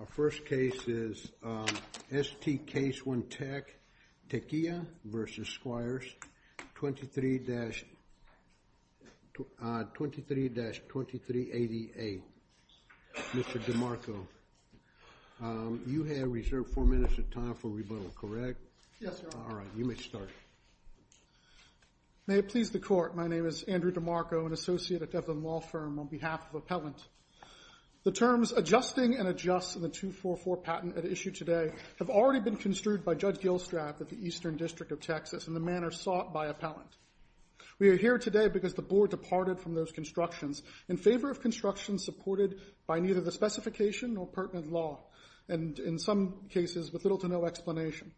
Our first case is ST Case1Tech, Tequilla v. Squires, 23-2380A. Mr. DeMarco, you had reserved four minutes of time for rebuttal, correct? Yes, Your Honor. All right, you may start. May it please the Court, my name is Andrew DeMarco, an associate at Devlin Law Firm on behalf of Appellant. The terms adjusting and adjust in the 244 patent at issue today have already been construed by Judge Gilstrap of the Eastern District of Texas in the manner sought by Appellant. We are here today because the Board departed from those constructions in favor of construction supported by neither the specification nor pertinent law, and in some cases with little to no explanation.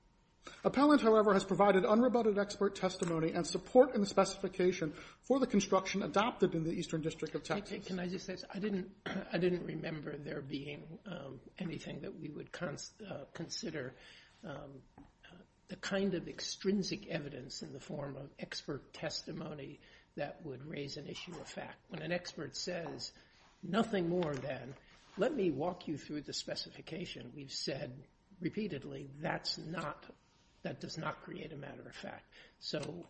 Appellant, however, has provided unrebutted expert testimony and support in the specification for the construction adopted in the Eastern District of Texas. Can I just say this? I didn't remember there being anything that we would consider the kind of extrinsic evidence in the form of expert testimony that would raise an issue of fact. When an expert says nothing more than, let me walk you through the specification, we've said repeatedly that's not, that does not create a matter of fact. So,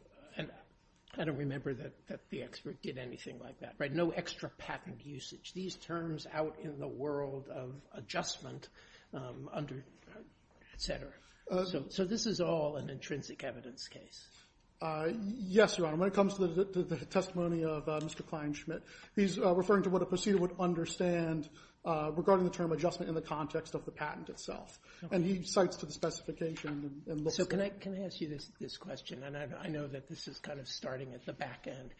I don't remember that the expert did anything like that, right? No extra patent usage. These terms out in the world of adjustment under, et cetera. So this is all an intrinsic evidence case. Yes, Your Honor. When it comes to the testimony of Mr. Kleinschmidt, he's referring to what a proceeder would understand regarding the term adjustment in the context of the patent itself. And he cites to the specification and looks at it. So can I ask you this question and I know that this is kind of starting at the back end.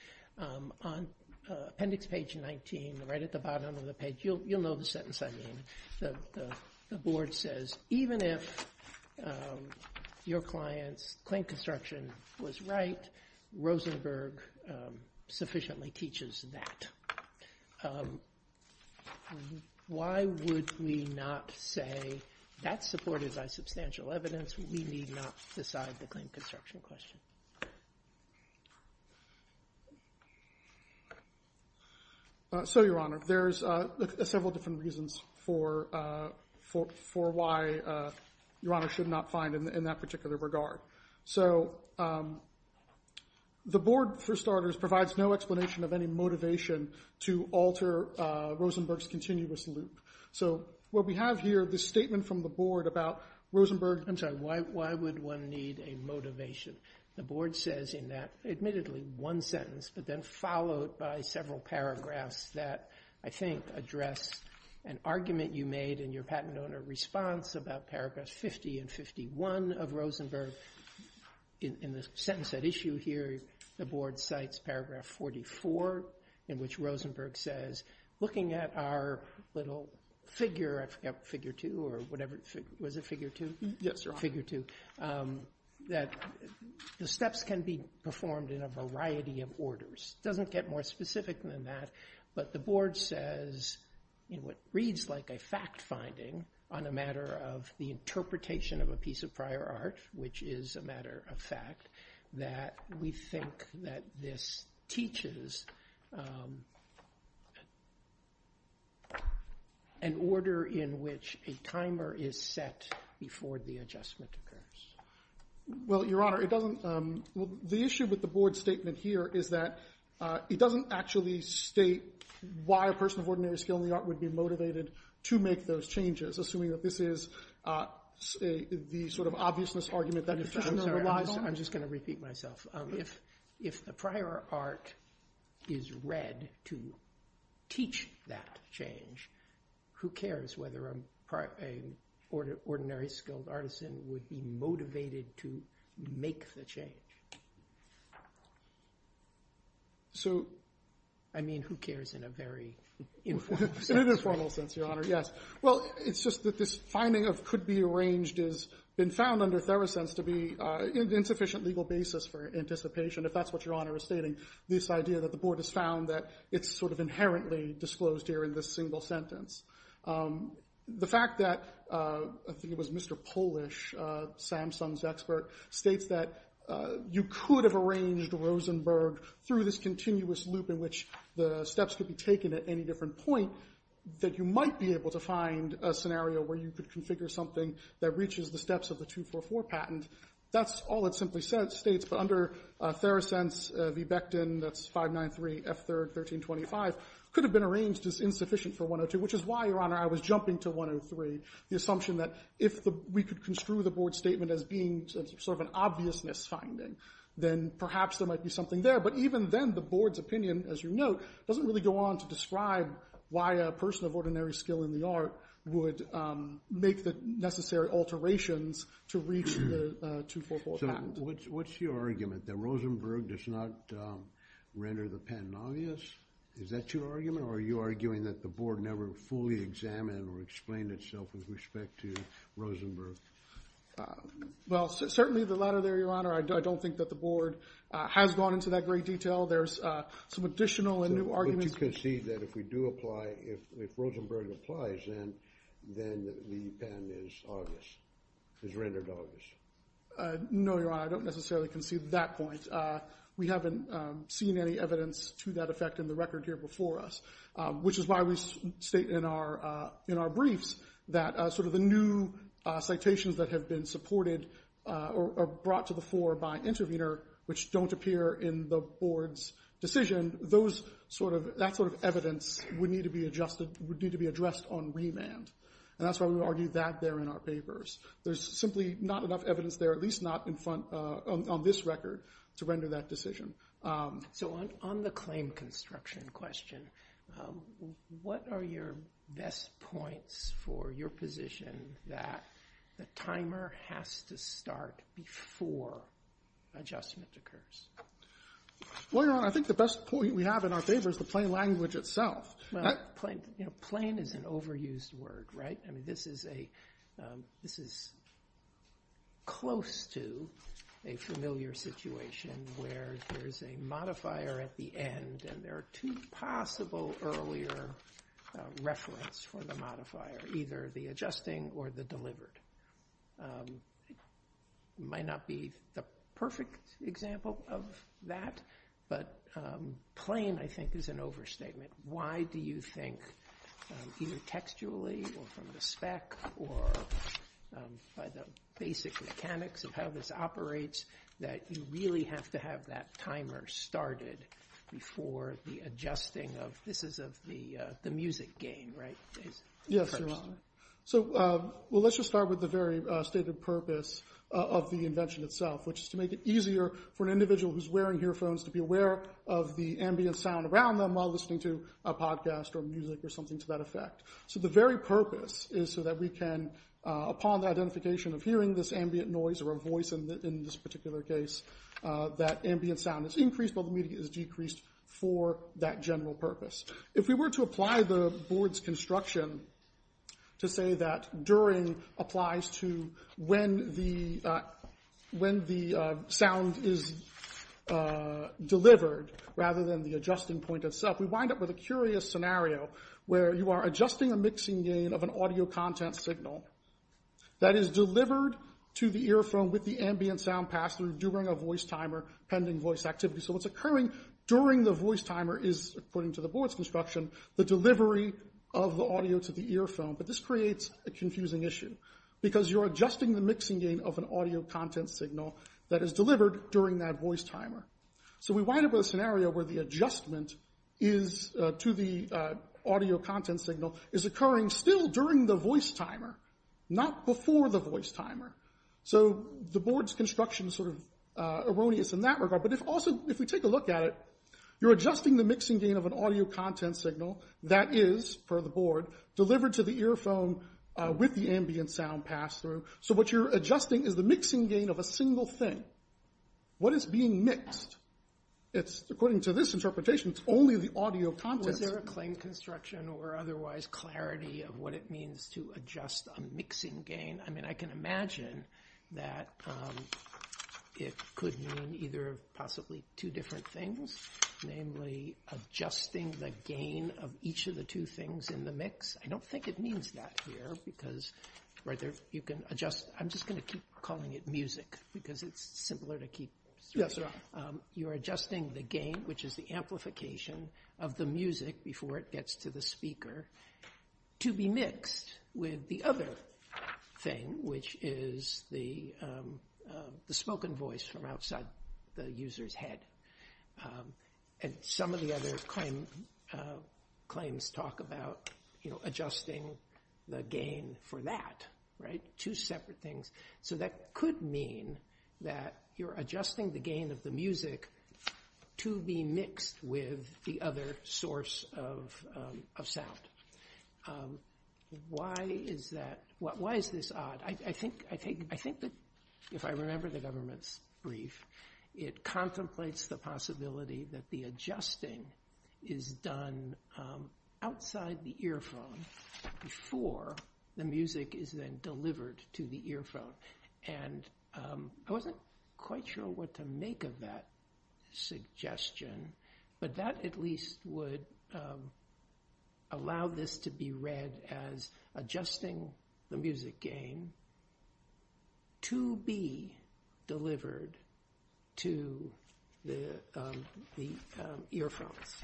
On appendix page 19, right at the bottom of the page, you'll know the sentence I mean. The board says, even if your client's claim construction was right, Rosenberg sufficiently teaches that. Why would we not say, that's supported by substantial evidence. We need not decide the claim construction question. So, Your Honor, there's several different reasons for why Your Honor should not find in that particular regard. So, the board, for starters, provides no explanation of any motivation to alter Rosenberg's continuous loop. So, what we have here, this statement from the board about Rosenberg. I'm sorry, why would one need a motivation? The board says in that, admittedly, one sentence, but then followed by several paragraphs that, I think, address an argument you made in your patent owner response about paragraphs 50 and 51 of Rosenberg. In the sentence at issue here, the board cites paragraph 44, in which Rosenberg says, looking at our little figure, I forgot, figure 2 or whatever, was it figure 2? Yes, Your Honor. Figure 2, that the steps can be performed in a variety of orders. Doesn't get more specific than that, but the board says, in what reads like a fact finding on the matter of the interpretation of a piece of prior art, which is a matter of fact, that we think that this teaches an order in which a timer is set before the adjustment occurs. Well, Your Honor, it doesn't, the issue with the board statement here is that it doesn't actually state why a person of ordinary skill in the art would be motivated to make those changes, assuming that this is the sort of obviousness argument that is just normalizable. I'm sorry, I'm just going to repeat myself. If a prior art is read to teach that change, who cares whether an ordinary skilled artisan would be motivated to make the change? I mean, who cares in a very informal sense? In an informal sense, Your Honor, yes. Well, it's just that this finding of could be arranged has been found under Therosense to be an insufficient legal basis for anticipation, if that's what Your Honor is stating, this idea that the board has found that it's sort of inherently disclosed here in this single sentence. The fact that, I think it was Mr. Polish, Samsung's expert, states that you could have arranged Rosenberg through this continuous loop in which the steps could be taken at any different point, that you might be able to find a scenario where you could configure something that reaches the steps of the 244 patent. That's all it simply states. But under Therosense, v. Becton, that's 593 F3rd 1325, could have been arranged as insufficient for 102, which is why, Your Honor, I was jumping to 103, the assumption that if we could construe the board's statement as being sort of an obviousness finding, then perhaps there might be something there. But even then, the board's opinion, as you note, doesn't really go on to describe why a person of ordinary skill in the art would make the necessary alterations to reach the 244 patent. So what's your argument? That Rosenberg does not render the patent obvious? Is that your argument? Or are you arguing that the board never fully examined or explained itself with respect to Rosenberg? Well, certainly the latter there, Your Honor. I don't think that the board has gone into that great detail. There's some additional and new arguments. But you concede that if we do apply, if Rosenberg applies, then the patent is obvious, is rendered obvious? No, Your Honor, I don't necessarily concede that point. We haven't seen any evidence to that effect in the record here before us, which is why we state in our briefs that sort of the new citations that have been supported or brought to the fore by intervener, which don't appear in the board's decision, that sort of evidence would need to be addressed on remand. And that's why we argue that there in our papers. There's simply not enough evidence there, at least not on this record, to render that decision. So on the claim construction question, what are your best points for your position that the timer has to start before adjustment occurs? Well, Your Honor, I think the best point we have in our papers is the plain language itself. Well, plain is an overused word, right? I where there's a modifier at the end and there are two possible earlier reference for the modifier, either the adjusting or the delivered. Might not be the perfect example of that, but plain, I think, is an overstatement. Why do you think either textually or from the spec or by the basic mechanics of how this operates, that you really have to have that timer started before the adjusting of this is of the music gain, right? Yes, Your Honor. So, well, let's just start with the very stated purpose of the invention itself, which is to make it easier for an individual who's wearing earphones to be aware of the ambient sound around them while listening to a podcast or music or something to that effect. So the very purpose is so that we can, upon the identification of hearing this ambient noise or a voice in this particular case, that ambient sound is increased while the media is decreased for that general purpose. If we were to apply the board's construction to say that during applies to when the sound is delivered rather than the adjusting point itself, we wind up with a curious scenario where you are adjusting a mixing gain of an audio content signal that is delivered to the earphone with the ambient sound passed through during a voice timer, pending voice activity. So what's occurring during the voice timer is, according to the board's construction, the delivery of the audio to the earphone. But this creates a confusing issue because you're adjusting the mixing gain of an audio content signal that is delivered during that voice timer. So we wind up with a scenario where the adjustment to the audio content signal is occurring still during the voice timer, not before the voice timer. So the board's construction is sort of erroneous in that regard. But also, if we take a look at it, you're adjusting the mixing gain of an audio content signal that is, per the board, delivered to the earphone with the ambient sound passed through. So what you're adjusting is the mixing gain of a single thing. What is being mixed? It's, according to this interpretation, it's only the audio content signal. Is there a claim construction or otherwise clarity of what it means to adjust a mixing gain? I mean, I can imagine that it could mean either of possibly two different things, namely adjusting the gain of each of the two things in the mix. I don't think it means that here because you can adjust. I'm just going to keep calling it music because it's simpler to see. You're adjusting the gain, which is the amplification of the music before it gets to the speaker, to be mixed with the other thing, which is the spoken voice from outside the user's head. And some of the other claims talk about adjusting the gain for that, two separate things. So that could mean that you're adjusting the gain of the music to be mixed with the other source of sound. Why is this odd? I think that if I remember the government's brief, it contemplates the possibility that the adjusting is done outside the earphone before the music is then delivered to the earphone. And I wasn't quite sure what to make of that suggestion, but that at least would allow this to be read as adjusting the music gain to be delivered to the earphones.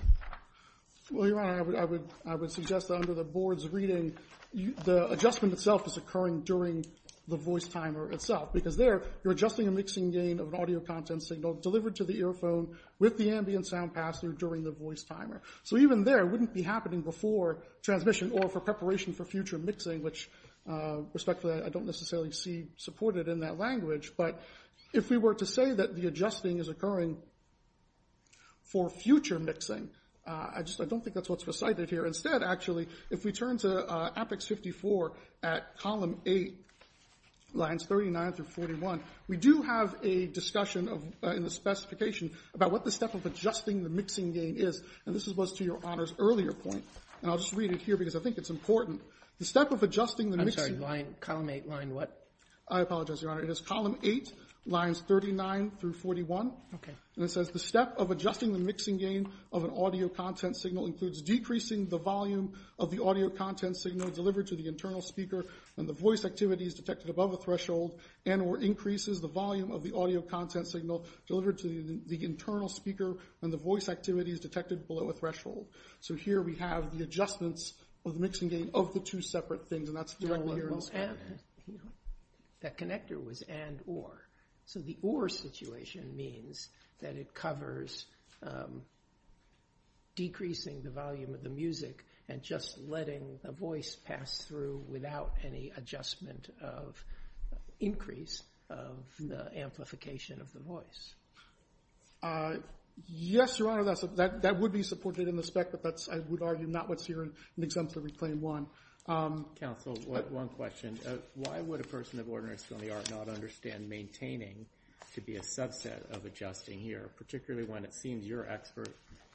Well, Your Honor, I would suggest that under the board's reading, the adjustment itself is occurring during the voice timer itself. Because there, you're adjusting a mixing gain of an audio content signal delivered to the earphone with the ambient sound pass through during the voice timer. So even there, it wouldn't be happening before transmission or for preparation for future mixing, which respectfully I don't necessarily see supported in that language. But if we were to say that the adjusting is occurring for future mixing, I don't think that's what's recited here. Instead, actually, if we turn to Apex 54 at column 8, lines 39 through 41, we do have a discussion in the specification about what the step of adjusting the mixing gain is. And this was to Your Honor's earlier point. And I'll just read it here because I think it's important. The step of adjusting the mixing... I'm sorry, line, column 8, line what? I apologize, Your Honor. It is column 8, lines 39 through 41. Okay. And it says, the step of adjusting the mixing gain of an audio content signal includes decreasing the volume of the audio content signal delivered to the internal speaker when the voice activity is detected above a threshold and or increases the volume of the audio content signal delivered to the internal speaker when the voice activity is detected below a threshold. So here we have the adjustments of the mixing gain of the two separate things. Your Honor, that connector was and or. So the or situation means that it covers decreasing the volume of the music and just letting the voice pass through without any adjustment of increase of the amplification of the voice. Yes, Your Honor, that would be supported in the spec, but that's, I would argue, not what's here in Exemplary Claim 1. Counsel, one question. Why would a person of ordinary skill in the art not understand maintaining to be a subset of adjusting here, particularly when it seems your expert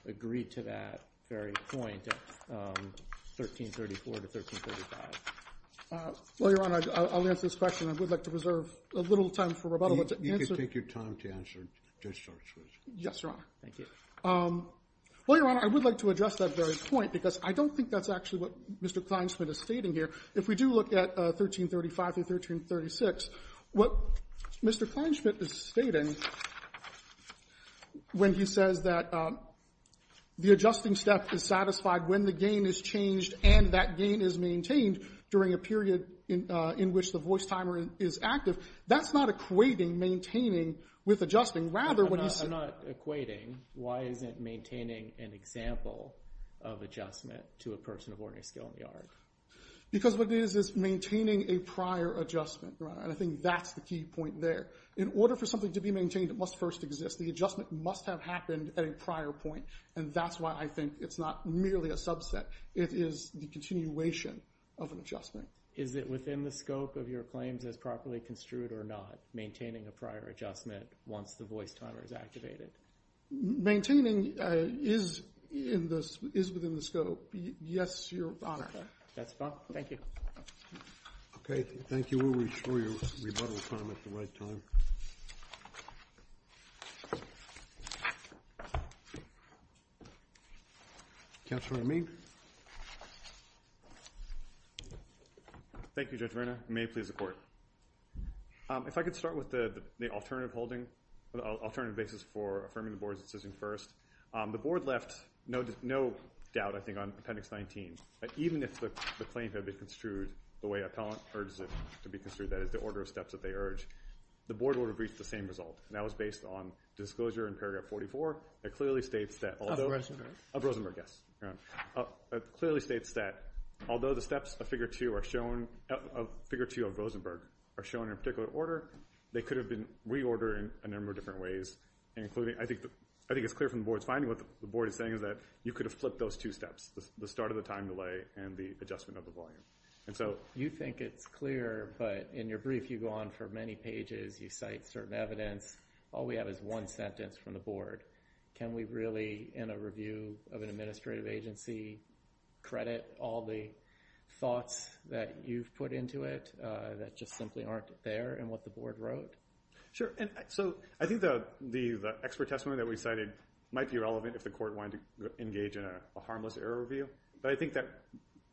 agreed to that very point, 1334 to 1335? Well, Your Honor, I'll answer this question. I would like to reserve a little time for rebuttal. You can take your time to answer. Yes, Your Honor. Thank you. Well, Your Honor, I would like to address that very point because I don't think that's actually what Mr. Kleinschmidt is stating here. If we do look at 1335 to 1336, what Mr. Kleinschmidt is stating when he says that the adjusting step is satisfied when the gain is changed and that gain is maintained during a period in which the voice timer is active, that's not equating maintaining with adjusting. Rather, what he's saying— I'm not equating. Why isn't maintaining an example of adjustment to a person of ordinary skill in the art? Because what it is is maintaining a prior adjustment, Your Honor, and I think that's the key point there. In order for something to be maintained, it must first exist. The adjustment must have happened at a prior point, and that's why I think it's not merely a subset. It is the continuation of an adjustment. Is it within the scope of your claims as properly construed or not, maintaining a prior adjustment once the voice timer is activated? Maintaining is within the scope, yes, Your Honor. That's fine. Thank you. Okay. Thank you. We'll restore your rebuttal time at the right time. Counselor Amin? Thank you, Judge Verna. May it please the Court. If I could start with the alternative basis for affirming the Board's decision first. The Board left no doubt, I think, on Appendix 19. Even if the claim had been construed the way appellant urged it to be construed—that is, the order of steps that they urged—the Board would have reached the same result, and that was based on disclosure in paragraph 44 that clearly states that— Of Rosenberg? Of Rosenberg, yes. It clearly states that although the steps of Figure 2 of Rosenberg are shown in a particular order, they could have been reordered in a number of different ways, including—I think it's clear from the Board's finding, what the Board is saying is that you could have flipped those two steps, the start of the time delay and the adjustment of the volume. And so— You think it's clear, but in your brief you go on for many pages, you cite certain evidence. All we have is one sentence from the Board. Can we really, in a review of an administrative agency, credit all the thoughts that you've put into it that just simply aren't there in what the Board wrote? Sure. And so I think the expert testimony that we cited might be relevant if the Court wanted to engage in a harmless error review, but I think that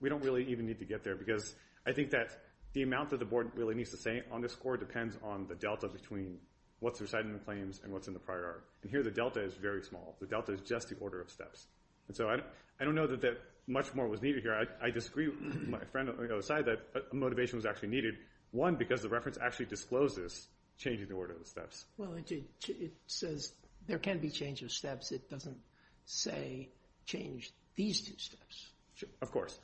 we don't really even need to get there because I think that the amount that the Board really needs to say on this score depends on the delta between what's recited in the claims and what's in the prior. And here the delta is very small. The delta is just the order of steps. And so I don't know that much more was needed here. I disagree with my friend on the other side that motivation was actually needed, one, because the reference actually discloses changing the order of the steps. Well, it says there can be change of steps. It doesn't say change these two steps. Of course.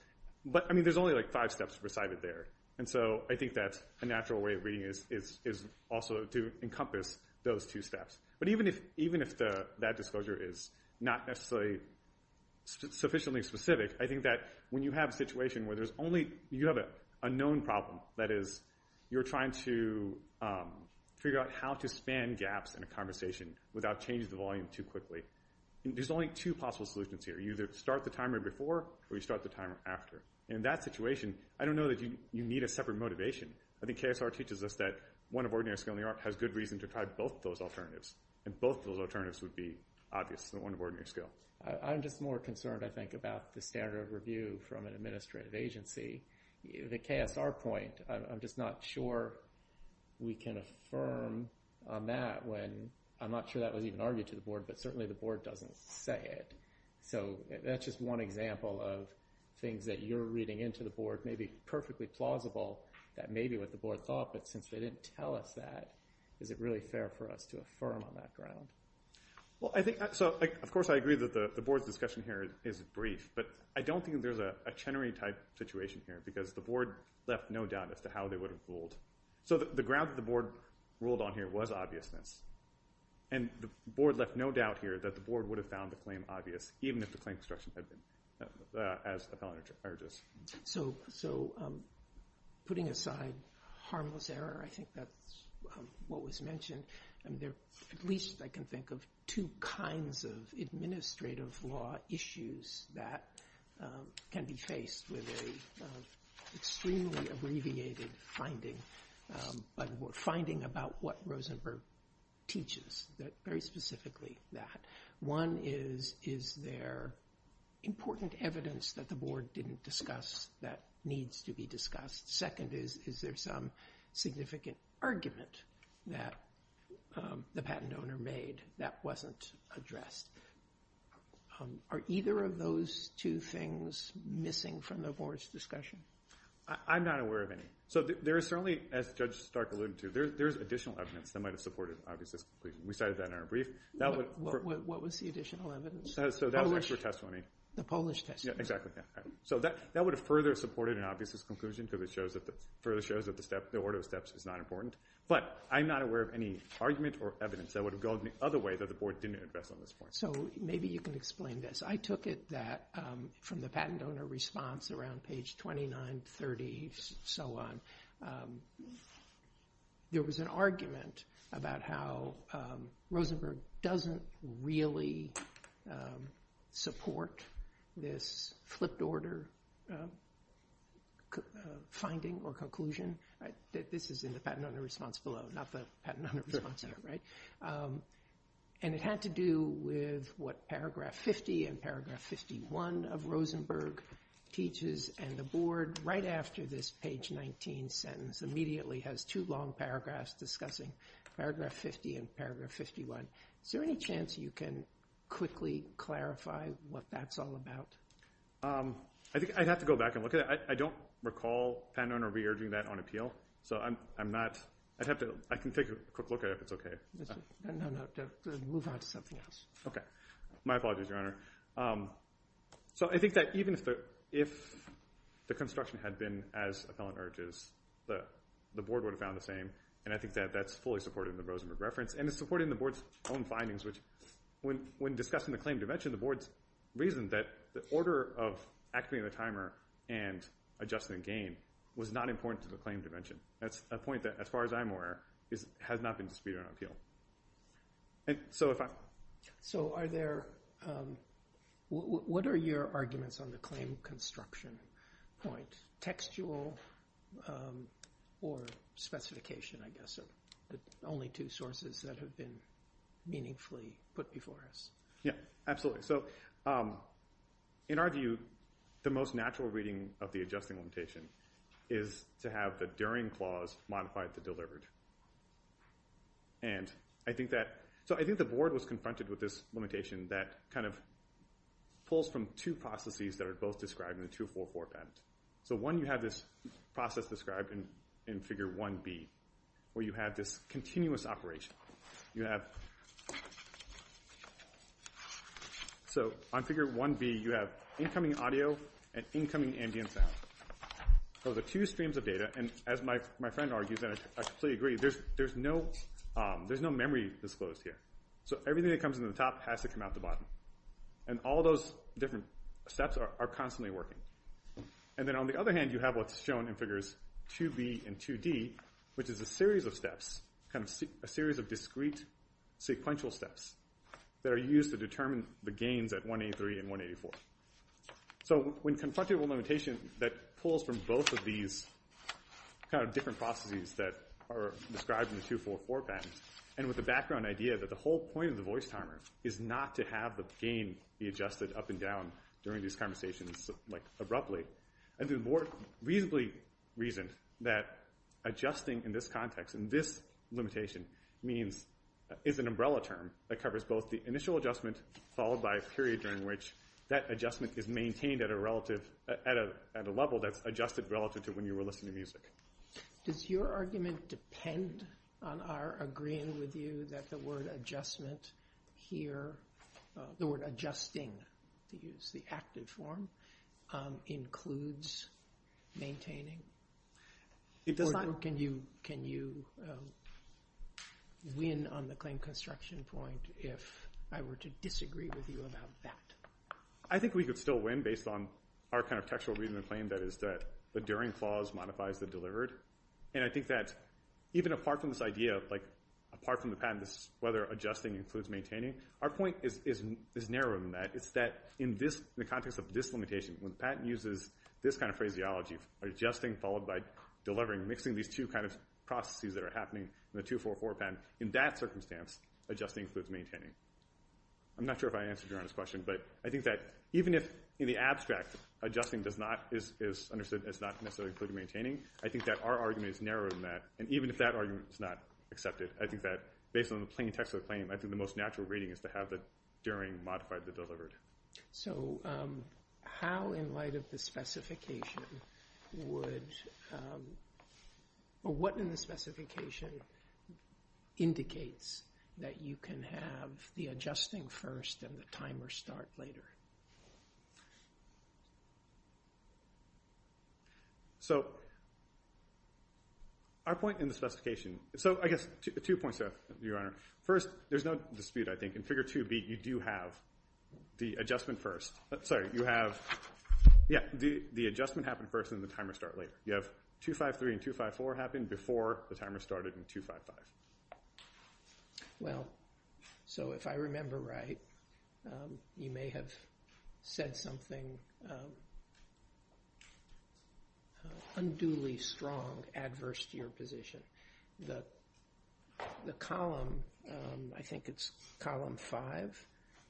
But, I mean, there's only like five steps recited there. And so I think that a natural way of reading it is also to encompass those two steps. But even if that disclosure is not necessarily sufficiently specific, I think that when you have a situation where there's only, you have an unknown problem, that is, you're trying to figure out how to span gaps in a conversation without changing the volume too quickly, there's only two possible solutions here. You either start the timer before or you start the timer after. In that situation, I don't know that you need a separate motivation. I think KSR teaches us that one of ordinary skill in the art has good reason to try both of those alternatives. And both of those alternatives would be obvious than one of ordinary skill. I'm just more concerned, I think, about the standard of review from an administrative agency. The KSR point, I'm just not sure we can affirm on that when, I'm not sure that was even argued to the board, but certainly the board doesn't say it. So that's just one example of things that you're reading into the board may be perfectly plausible that may be what the board thought, but since they didn't tell us that, is it really fair for us to affirm on that ground? Well, I think, so of course I agree that the board's discussion here is brief, but I don't think there's a Chenery type situation here because the board left no doubt as to how they would have ruled. So the ground that the board ruled on here was obviousness. And the board left no doubt here that the board would have found the claim obvious even if the claim instruction had been as a felony charges. So putting aside harmless error, I think that's what was mentioned. And there, at least I can think of two kinds of administrative law issues that can be faced with a extremely abbreviated finding, but finding about what Rosenberg teaches, very specifically that. One is, is there important evidence that the board didn't discuss that needs to be discussed? Second is, is there some significant argument that the patent owner made that wasn't addressed? Are either of those two things missing from the board's discussion? I'm not aware of any. So there is certainly, as Judge Stark alluded to, there's additional evidence that might have supported obviousness. We cited that in our brief. What was the additional evidence? The Polish testimony. Exactly. So that would have further supported an obviousness conclusion because it further shows that the order of steps is not important. But I'm not aware of any argument or evidence that would have gone the other way that the board didn't address on this point. So maybe you can explain this. I took it that from the patent owner response around page 29, 30, so on. There was an argument about how Rosenberg doesn't really support this flipped order finding or conclusion. This is in the patent owner response below, not the patent owner response there, right? And it had to do with what paragraph 50 and paragraph 51 of Rosenberg teaches. And the board, right after this page 19 sentence, immediately has two long paragraphs discussing paragraph 50 and paragraph 51. Is there any chance you can quickly clarify what that's all about? I think I'd have to go back and look at it. I don't recall patent owner re-urging that on appeal. So I'm not, I'd have to, I can take a quick look at it if that's okay. No, no. Move on to something else. Okay. My apologies, Your Honor. So I think that even if the construction had been as appellant urges, the board would have found the same. And I think that that's fully supported in the Rosenberg reference. And it's supported in the board's own findings, which when discussing the claim dimension, the board's reason that the order of activating the timer and adjusting the gain was not important to the claim dimension. That's a point that, as far as I'm aware, has not been disputed on appeal. So are there, what are your arguments on the claim construction point? Textual or specification, I guess, are the only two sources that have been meaningfully put before us. Yeah, absolutely. So in our view, the most natural reading of the adjusting limitation is to have the during clause modified to delivered. And I think that, so I think the board was confronted with this limitation that kind of pulls from two processes that are both described in the 244 patent. So one, you have this process described in figure 1B, where you have this continuous operation. You have the two streams of data. And as my friend argues, and I completely agree, there's no memory disclosed here. So everything that comes into the top has to come out the bottom. And all those different steps are constantly working. And then on the other hand, you have what's shown in figures 2B and 2D, which is a series of steps, a series of discrete sequential steps that are used to determine the gains at 183 and 184. So when confronted with a limitation that pulls from both of these kind of different processes that are described in the 244 patent, and with the background idea that the whole point of the voice timer is not to have the gain be adjusted up and down during these conversations, like abruptly. And the board reasonably reasoned that adjusting in this context, in this limitation, means, is an umbrella term that covers both the initial adjustment followed by a period during which that adjustment is maintained at a relative, at a level that's adjusted relative to when you were listening to music. Does your argument depend on our agreeing with you that the word adjustment here, the word adjusting, to use the active form, includes maintaining? Or can you win on the claim construction point if I were to disagree with you about that? I think we could still win based on our kind of textual reason and claim that is that the during clause modifies the delivered. And I think that even apart from this idea of like, apart from the patent, this is whether adjusting includes maintaining, our point is narrower than that. It's that in this, in the context of this limitation, when the patent uses this kind of phraseology, adjusting followed by delivering, mixing these two kind of processes that are happening in the 244 patent, in that circumstance, adjusting includes maintaining. I'm not sure if I answered your honest question, but I think that even if in the abstract, adjusting does not, is understood as not necessarily including maintaining, I think that our argument is narrower than that. And even if that argument is not accepted, I think that based on the plain text of the claim, I think the most natural reading is to have the during modified the delivered. So how, in light of the specification, would, or what in the specification indicates that you can have the adjusting first and the timer start later? So our point in the specification, so I guess two points there, Your Honor. First, there's no dispute, I think, in figure 2b, you do have the adjustment first. Sorry, you have, yeah, the adjustment happened first and the timer start later. You have 253 and 254 happen before the timer started in 255. Well, so if I remember right, you may have said something unduly strong, adverse to your position. The column, I think it's column five,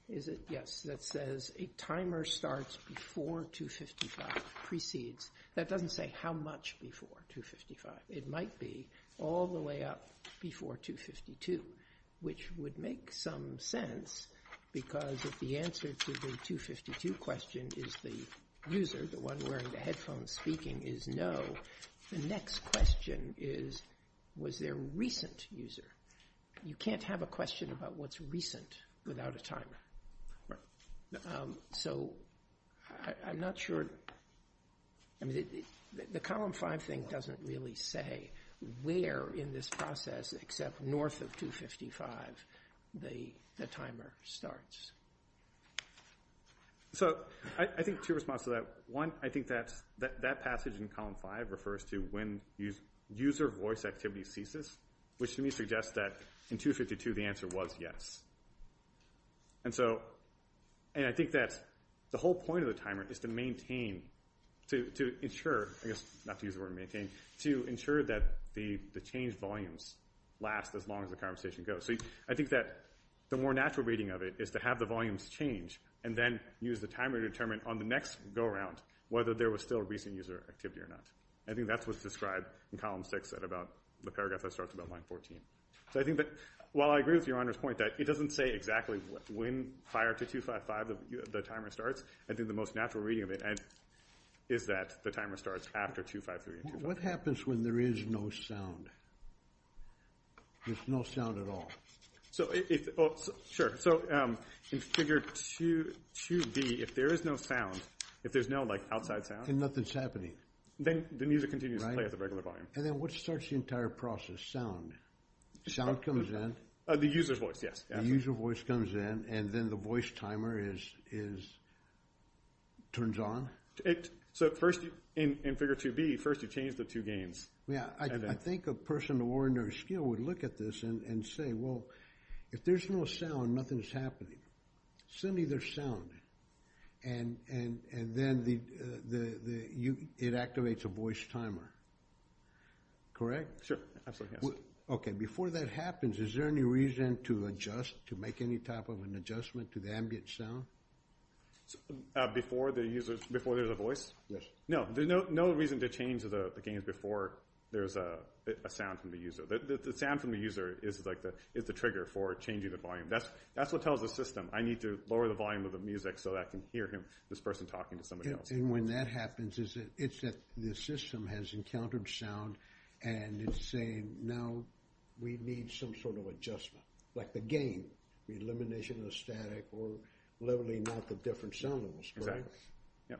is it? Yes, that says a timer starts before 255 precedes. That doesn't say how much before 255. It might be all the way up before 252, which would make some sense because if the answer to the 252 question is the user, the one wearing the headphones speaking, is no. The next question is, was there a recent user? You can't have a question about what's recent without a timer. So I'm not in this process except north of 255 the timer starts. So I think two responses to that. One, I think that passage in column five refers to when user voice activity ceases, which to me suggests that in 252 the answer was yes. And so, and I think that the whole point of the timer is to to ensure, I guess not to use the word maintain, to ensure that the changed volumes last as long as the conversation goes. So I think that the more natural reading of it is to have the volumes change and then use the timer to determine on the next go around whether there was still recent user activity or not. I think that's what's described in column six at about the paragraph that starts about line 14. So I think that while I agree with Your Honor's point that it doesn't say exactly when prior to 255 the timer starts, I think the most natural reading of it is that the timer starts after 253. What happens when there is no sound? There's no sound at all. So if, oh sure, so in figure 2B, if there is no sound, if there's no like outside sound. And nothing's happening. Then the music continues to play at the regular volume. And then what starts the entire process? Sound. Sound comes in. The user's in. And then the voice timer is, turns on. So first in figure 2B, first you change the two gains. Yeah. I think a person of ordinary skill would look at this and say, well, if there's no sound, nothing's happening. Suddenly there's sound. And then the, it activates a voice timer. Correct? Sure. Absolutely. Okay. Before that happens, is there any reason to adjust, to make any type of an adjustment to the ambient sound? Before the user, before there's a voice? Yes. No. There's no reason to change the gains before there's a sound from the user. The sound from the user is like the, is the trigger for changing the volume. That's what tells the system, I need to lower the volume of the music so that I can hear him, this person talking to somebody else. And when that happens, is it, it's that the system has encountered sound and it's saying, now we need some sort of adjustment. Like the gain. Elimination of the static or leveling out the different sound levels. Exactly. Yeah.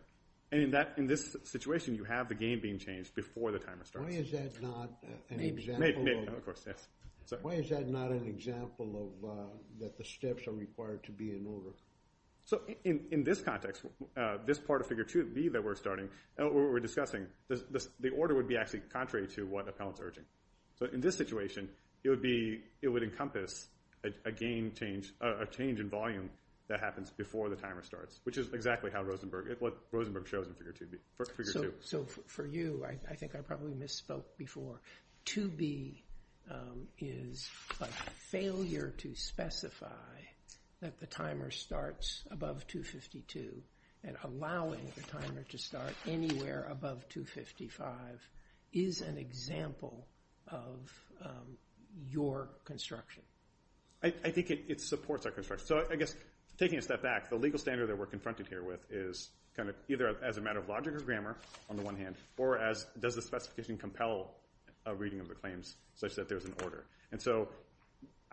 And in that, in this situation, you have the gain being changed before the timer starts. Why is that not an example of, why is that not an example of that the steps are required to be in order? So in this context, this part of figure 2B that we're starting, what we're discussing, the order would be actually contrary to what appellant's urging. So in this situation, it would be, it would encompass a gain change, a change in volume that happens before the timer starts, which is exactly how Rosenberg, what Rosenberg shows in figure 2B, figure 2. So for you, I think I probably misspoke before. 2B is like failure to specify that the timer starts above 252 and allowing the timer to start anywhere above 255 is an example of your construction. I think it supports our construction. So I guess taking a step back, the legal standard that we're confronted here with is kind of either as a matter of logic or grammar on the one hand, or as does the specification compel a reading of the claims such that there's order. And so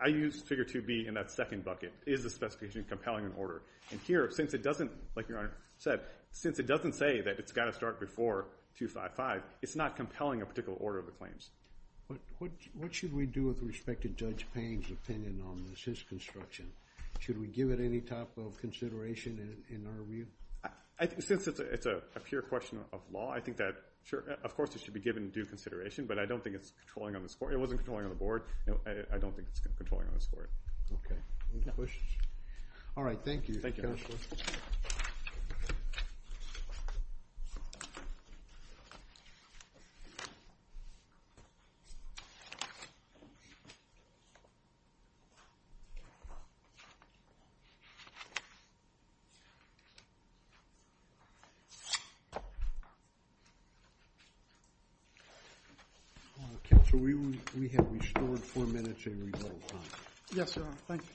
I use figure 2B in that second bucket. Is the specification compelling an order? And here, since it doesn't, like your Honor said, since it doesn't say that it's got to start before 255, it's not compelling a particular order of the claims. What should we do with respect to Judge Payne's opinion on this, his construction? Should we give it any type of consideration in our view? Since it's a pure question of law, I think that, sure, of course it should be given due consideration, but I don't think it's controlling on the score. It wasn't controlling on the board. No, I don't think it's controlling on the score. Okay. Any questions? All right. Thank you, Counselor. Okay, so we have restored four minutes in rebuttal time. Yes, Your Honor. Thank you.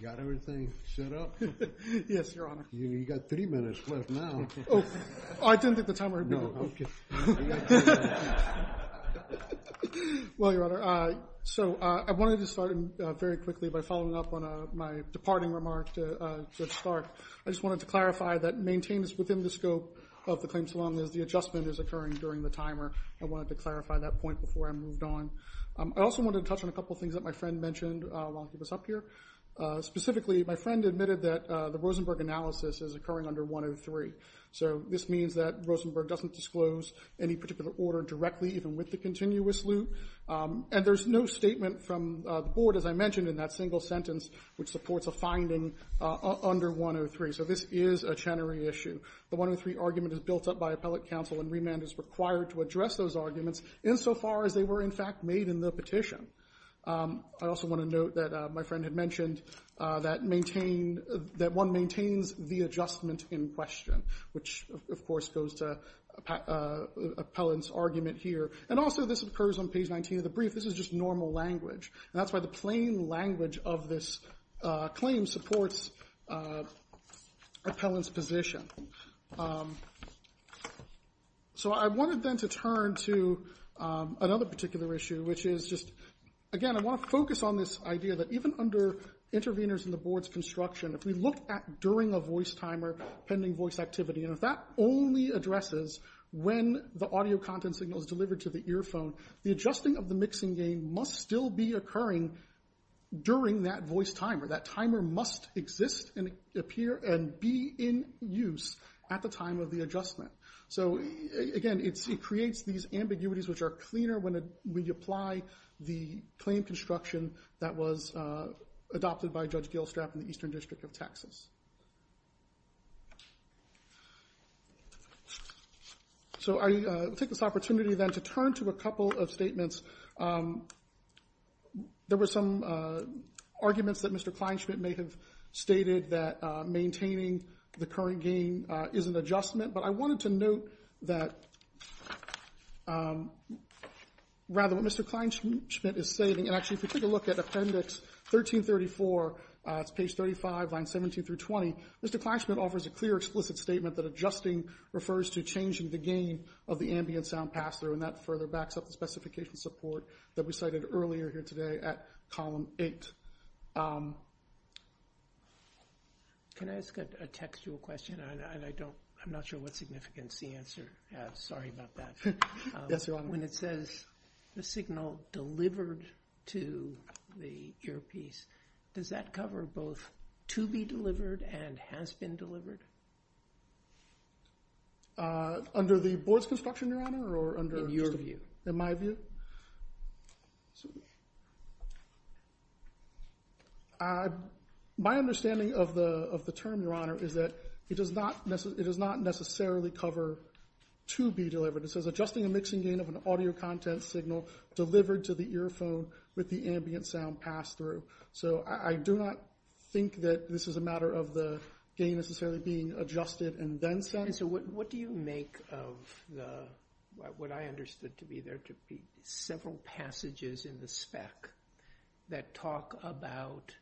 You got everything set up? Yes, Your Honor. You got three minutes left now. Oh, I didn't think the timer had been up. No, okay. Well, Your Honor, so I wanted to start very quickly by following up on my departing remark to Judge Stark. I just wanted to clarify that maintenance within the scope of the claims as long as the adjustment is occurring during the timer. I wanted to clarify that point before I moved on. I also wanted to touch on a couple of things that my friend mentioned while he was up here. Specifically, my friend admitted that the Rosenberg analysis is occurring under 103. So this means that Rosenberg doesn't disclose any particular order directly, even with the continuous loop. And there's no statement from the board, as I mentioned, in that single sentence, which supports a finding under 103. So this is a Chenery issue. The 103 argument is built up by appellate counsel, and remand is required to address those arguments insofar as they were, in fact, made in the petition. I also want to note that my friend had mentioned that one maintains the adjustment in question, which, of course, goes to appellant's argument here. And also, this occurs on page 19 of the brief. This is just normal language. And that's why the plain language of this claim supports appellant's position. So I wanted, then, to turn to another particular issue, which is just, again, I want to focus on this idea that even under interveners in the board's construction, if we look at during a voice timer, pending voice activity, and if that only addresses when the audio content signal is delivered to the earphone, the adjusting of the voice timer, that timer must exist and appear and be in use at the time of the adjustment. So again, it creates these ambiguities which are cleaner when you apply the claim construction that was adopted by Judge Gilstrap in the Eastern District of Texas. So I will take this opportunity, then, to turn to a couple of statements. There were some arguments that Mr. Kleinschmidt may have stated that maintaining the current gain is an adjustment, but I wanted to note that rather what Mr. Kleinschmidt is stating, and actually, if we take a look at Appendix 1334, it's page 35, lines 17 through 20, Mr. Kleinschmidt offers a clear explicit statement that adjusting refers to changing the gain of the support that we cited earlier here today at Column 8. Can I ask a textual question? I'm not sure what significance the answer has. Sorry about that. When it says the signal delivered to the earpiece, does that cover both to be delivered and has been delivered? Under the board's construction, Your Honor, or under... In your view. In my view? My understanding of the term, Your Honor, is that it does not necessarily cover to be delivered. It says adjusting a mixing gain of an audio content signal delivered to the earphone with the ambient sound passed through. So I do not think that this is a matter of the gain necessarily being adjusted and then sent. What do you make of what I understood to be there to be several passages in the spec that talk about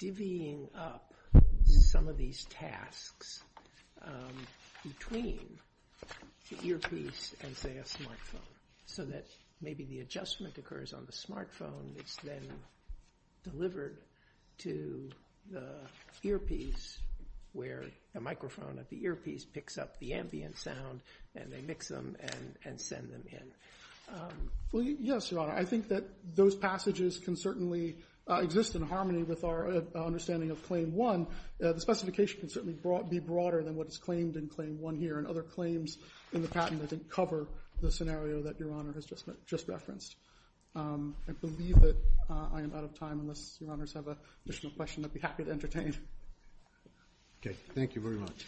divvying up some of these tasks between the earpiece and, say, a smartphone, so that maybe the adjustment occurs on the smartphone, it's then delivered to the earpiece where a microphone at the earpiece picks up the ambient sound and they mix them and send them in? Yes, Your Honor. I think that those passages can certainly exist in harmony with our understanding of Claim 1. The specification can certainly be broader than what is claimed in Claim 1 here, and other claims in the patent I think cover the scenario that Your Honor has just referenced. I believe that I am out of time. Unless Your Honors have an additional question, I'd be happy to entertain. Okay. Thank you very much.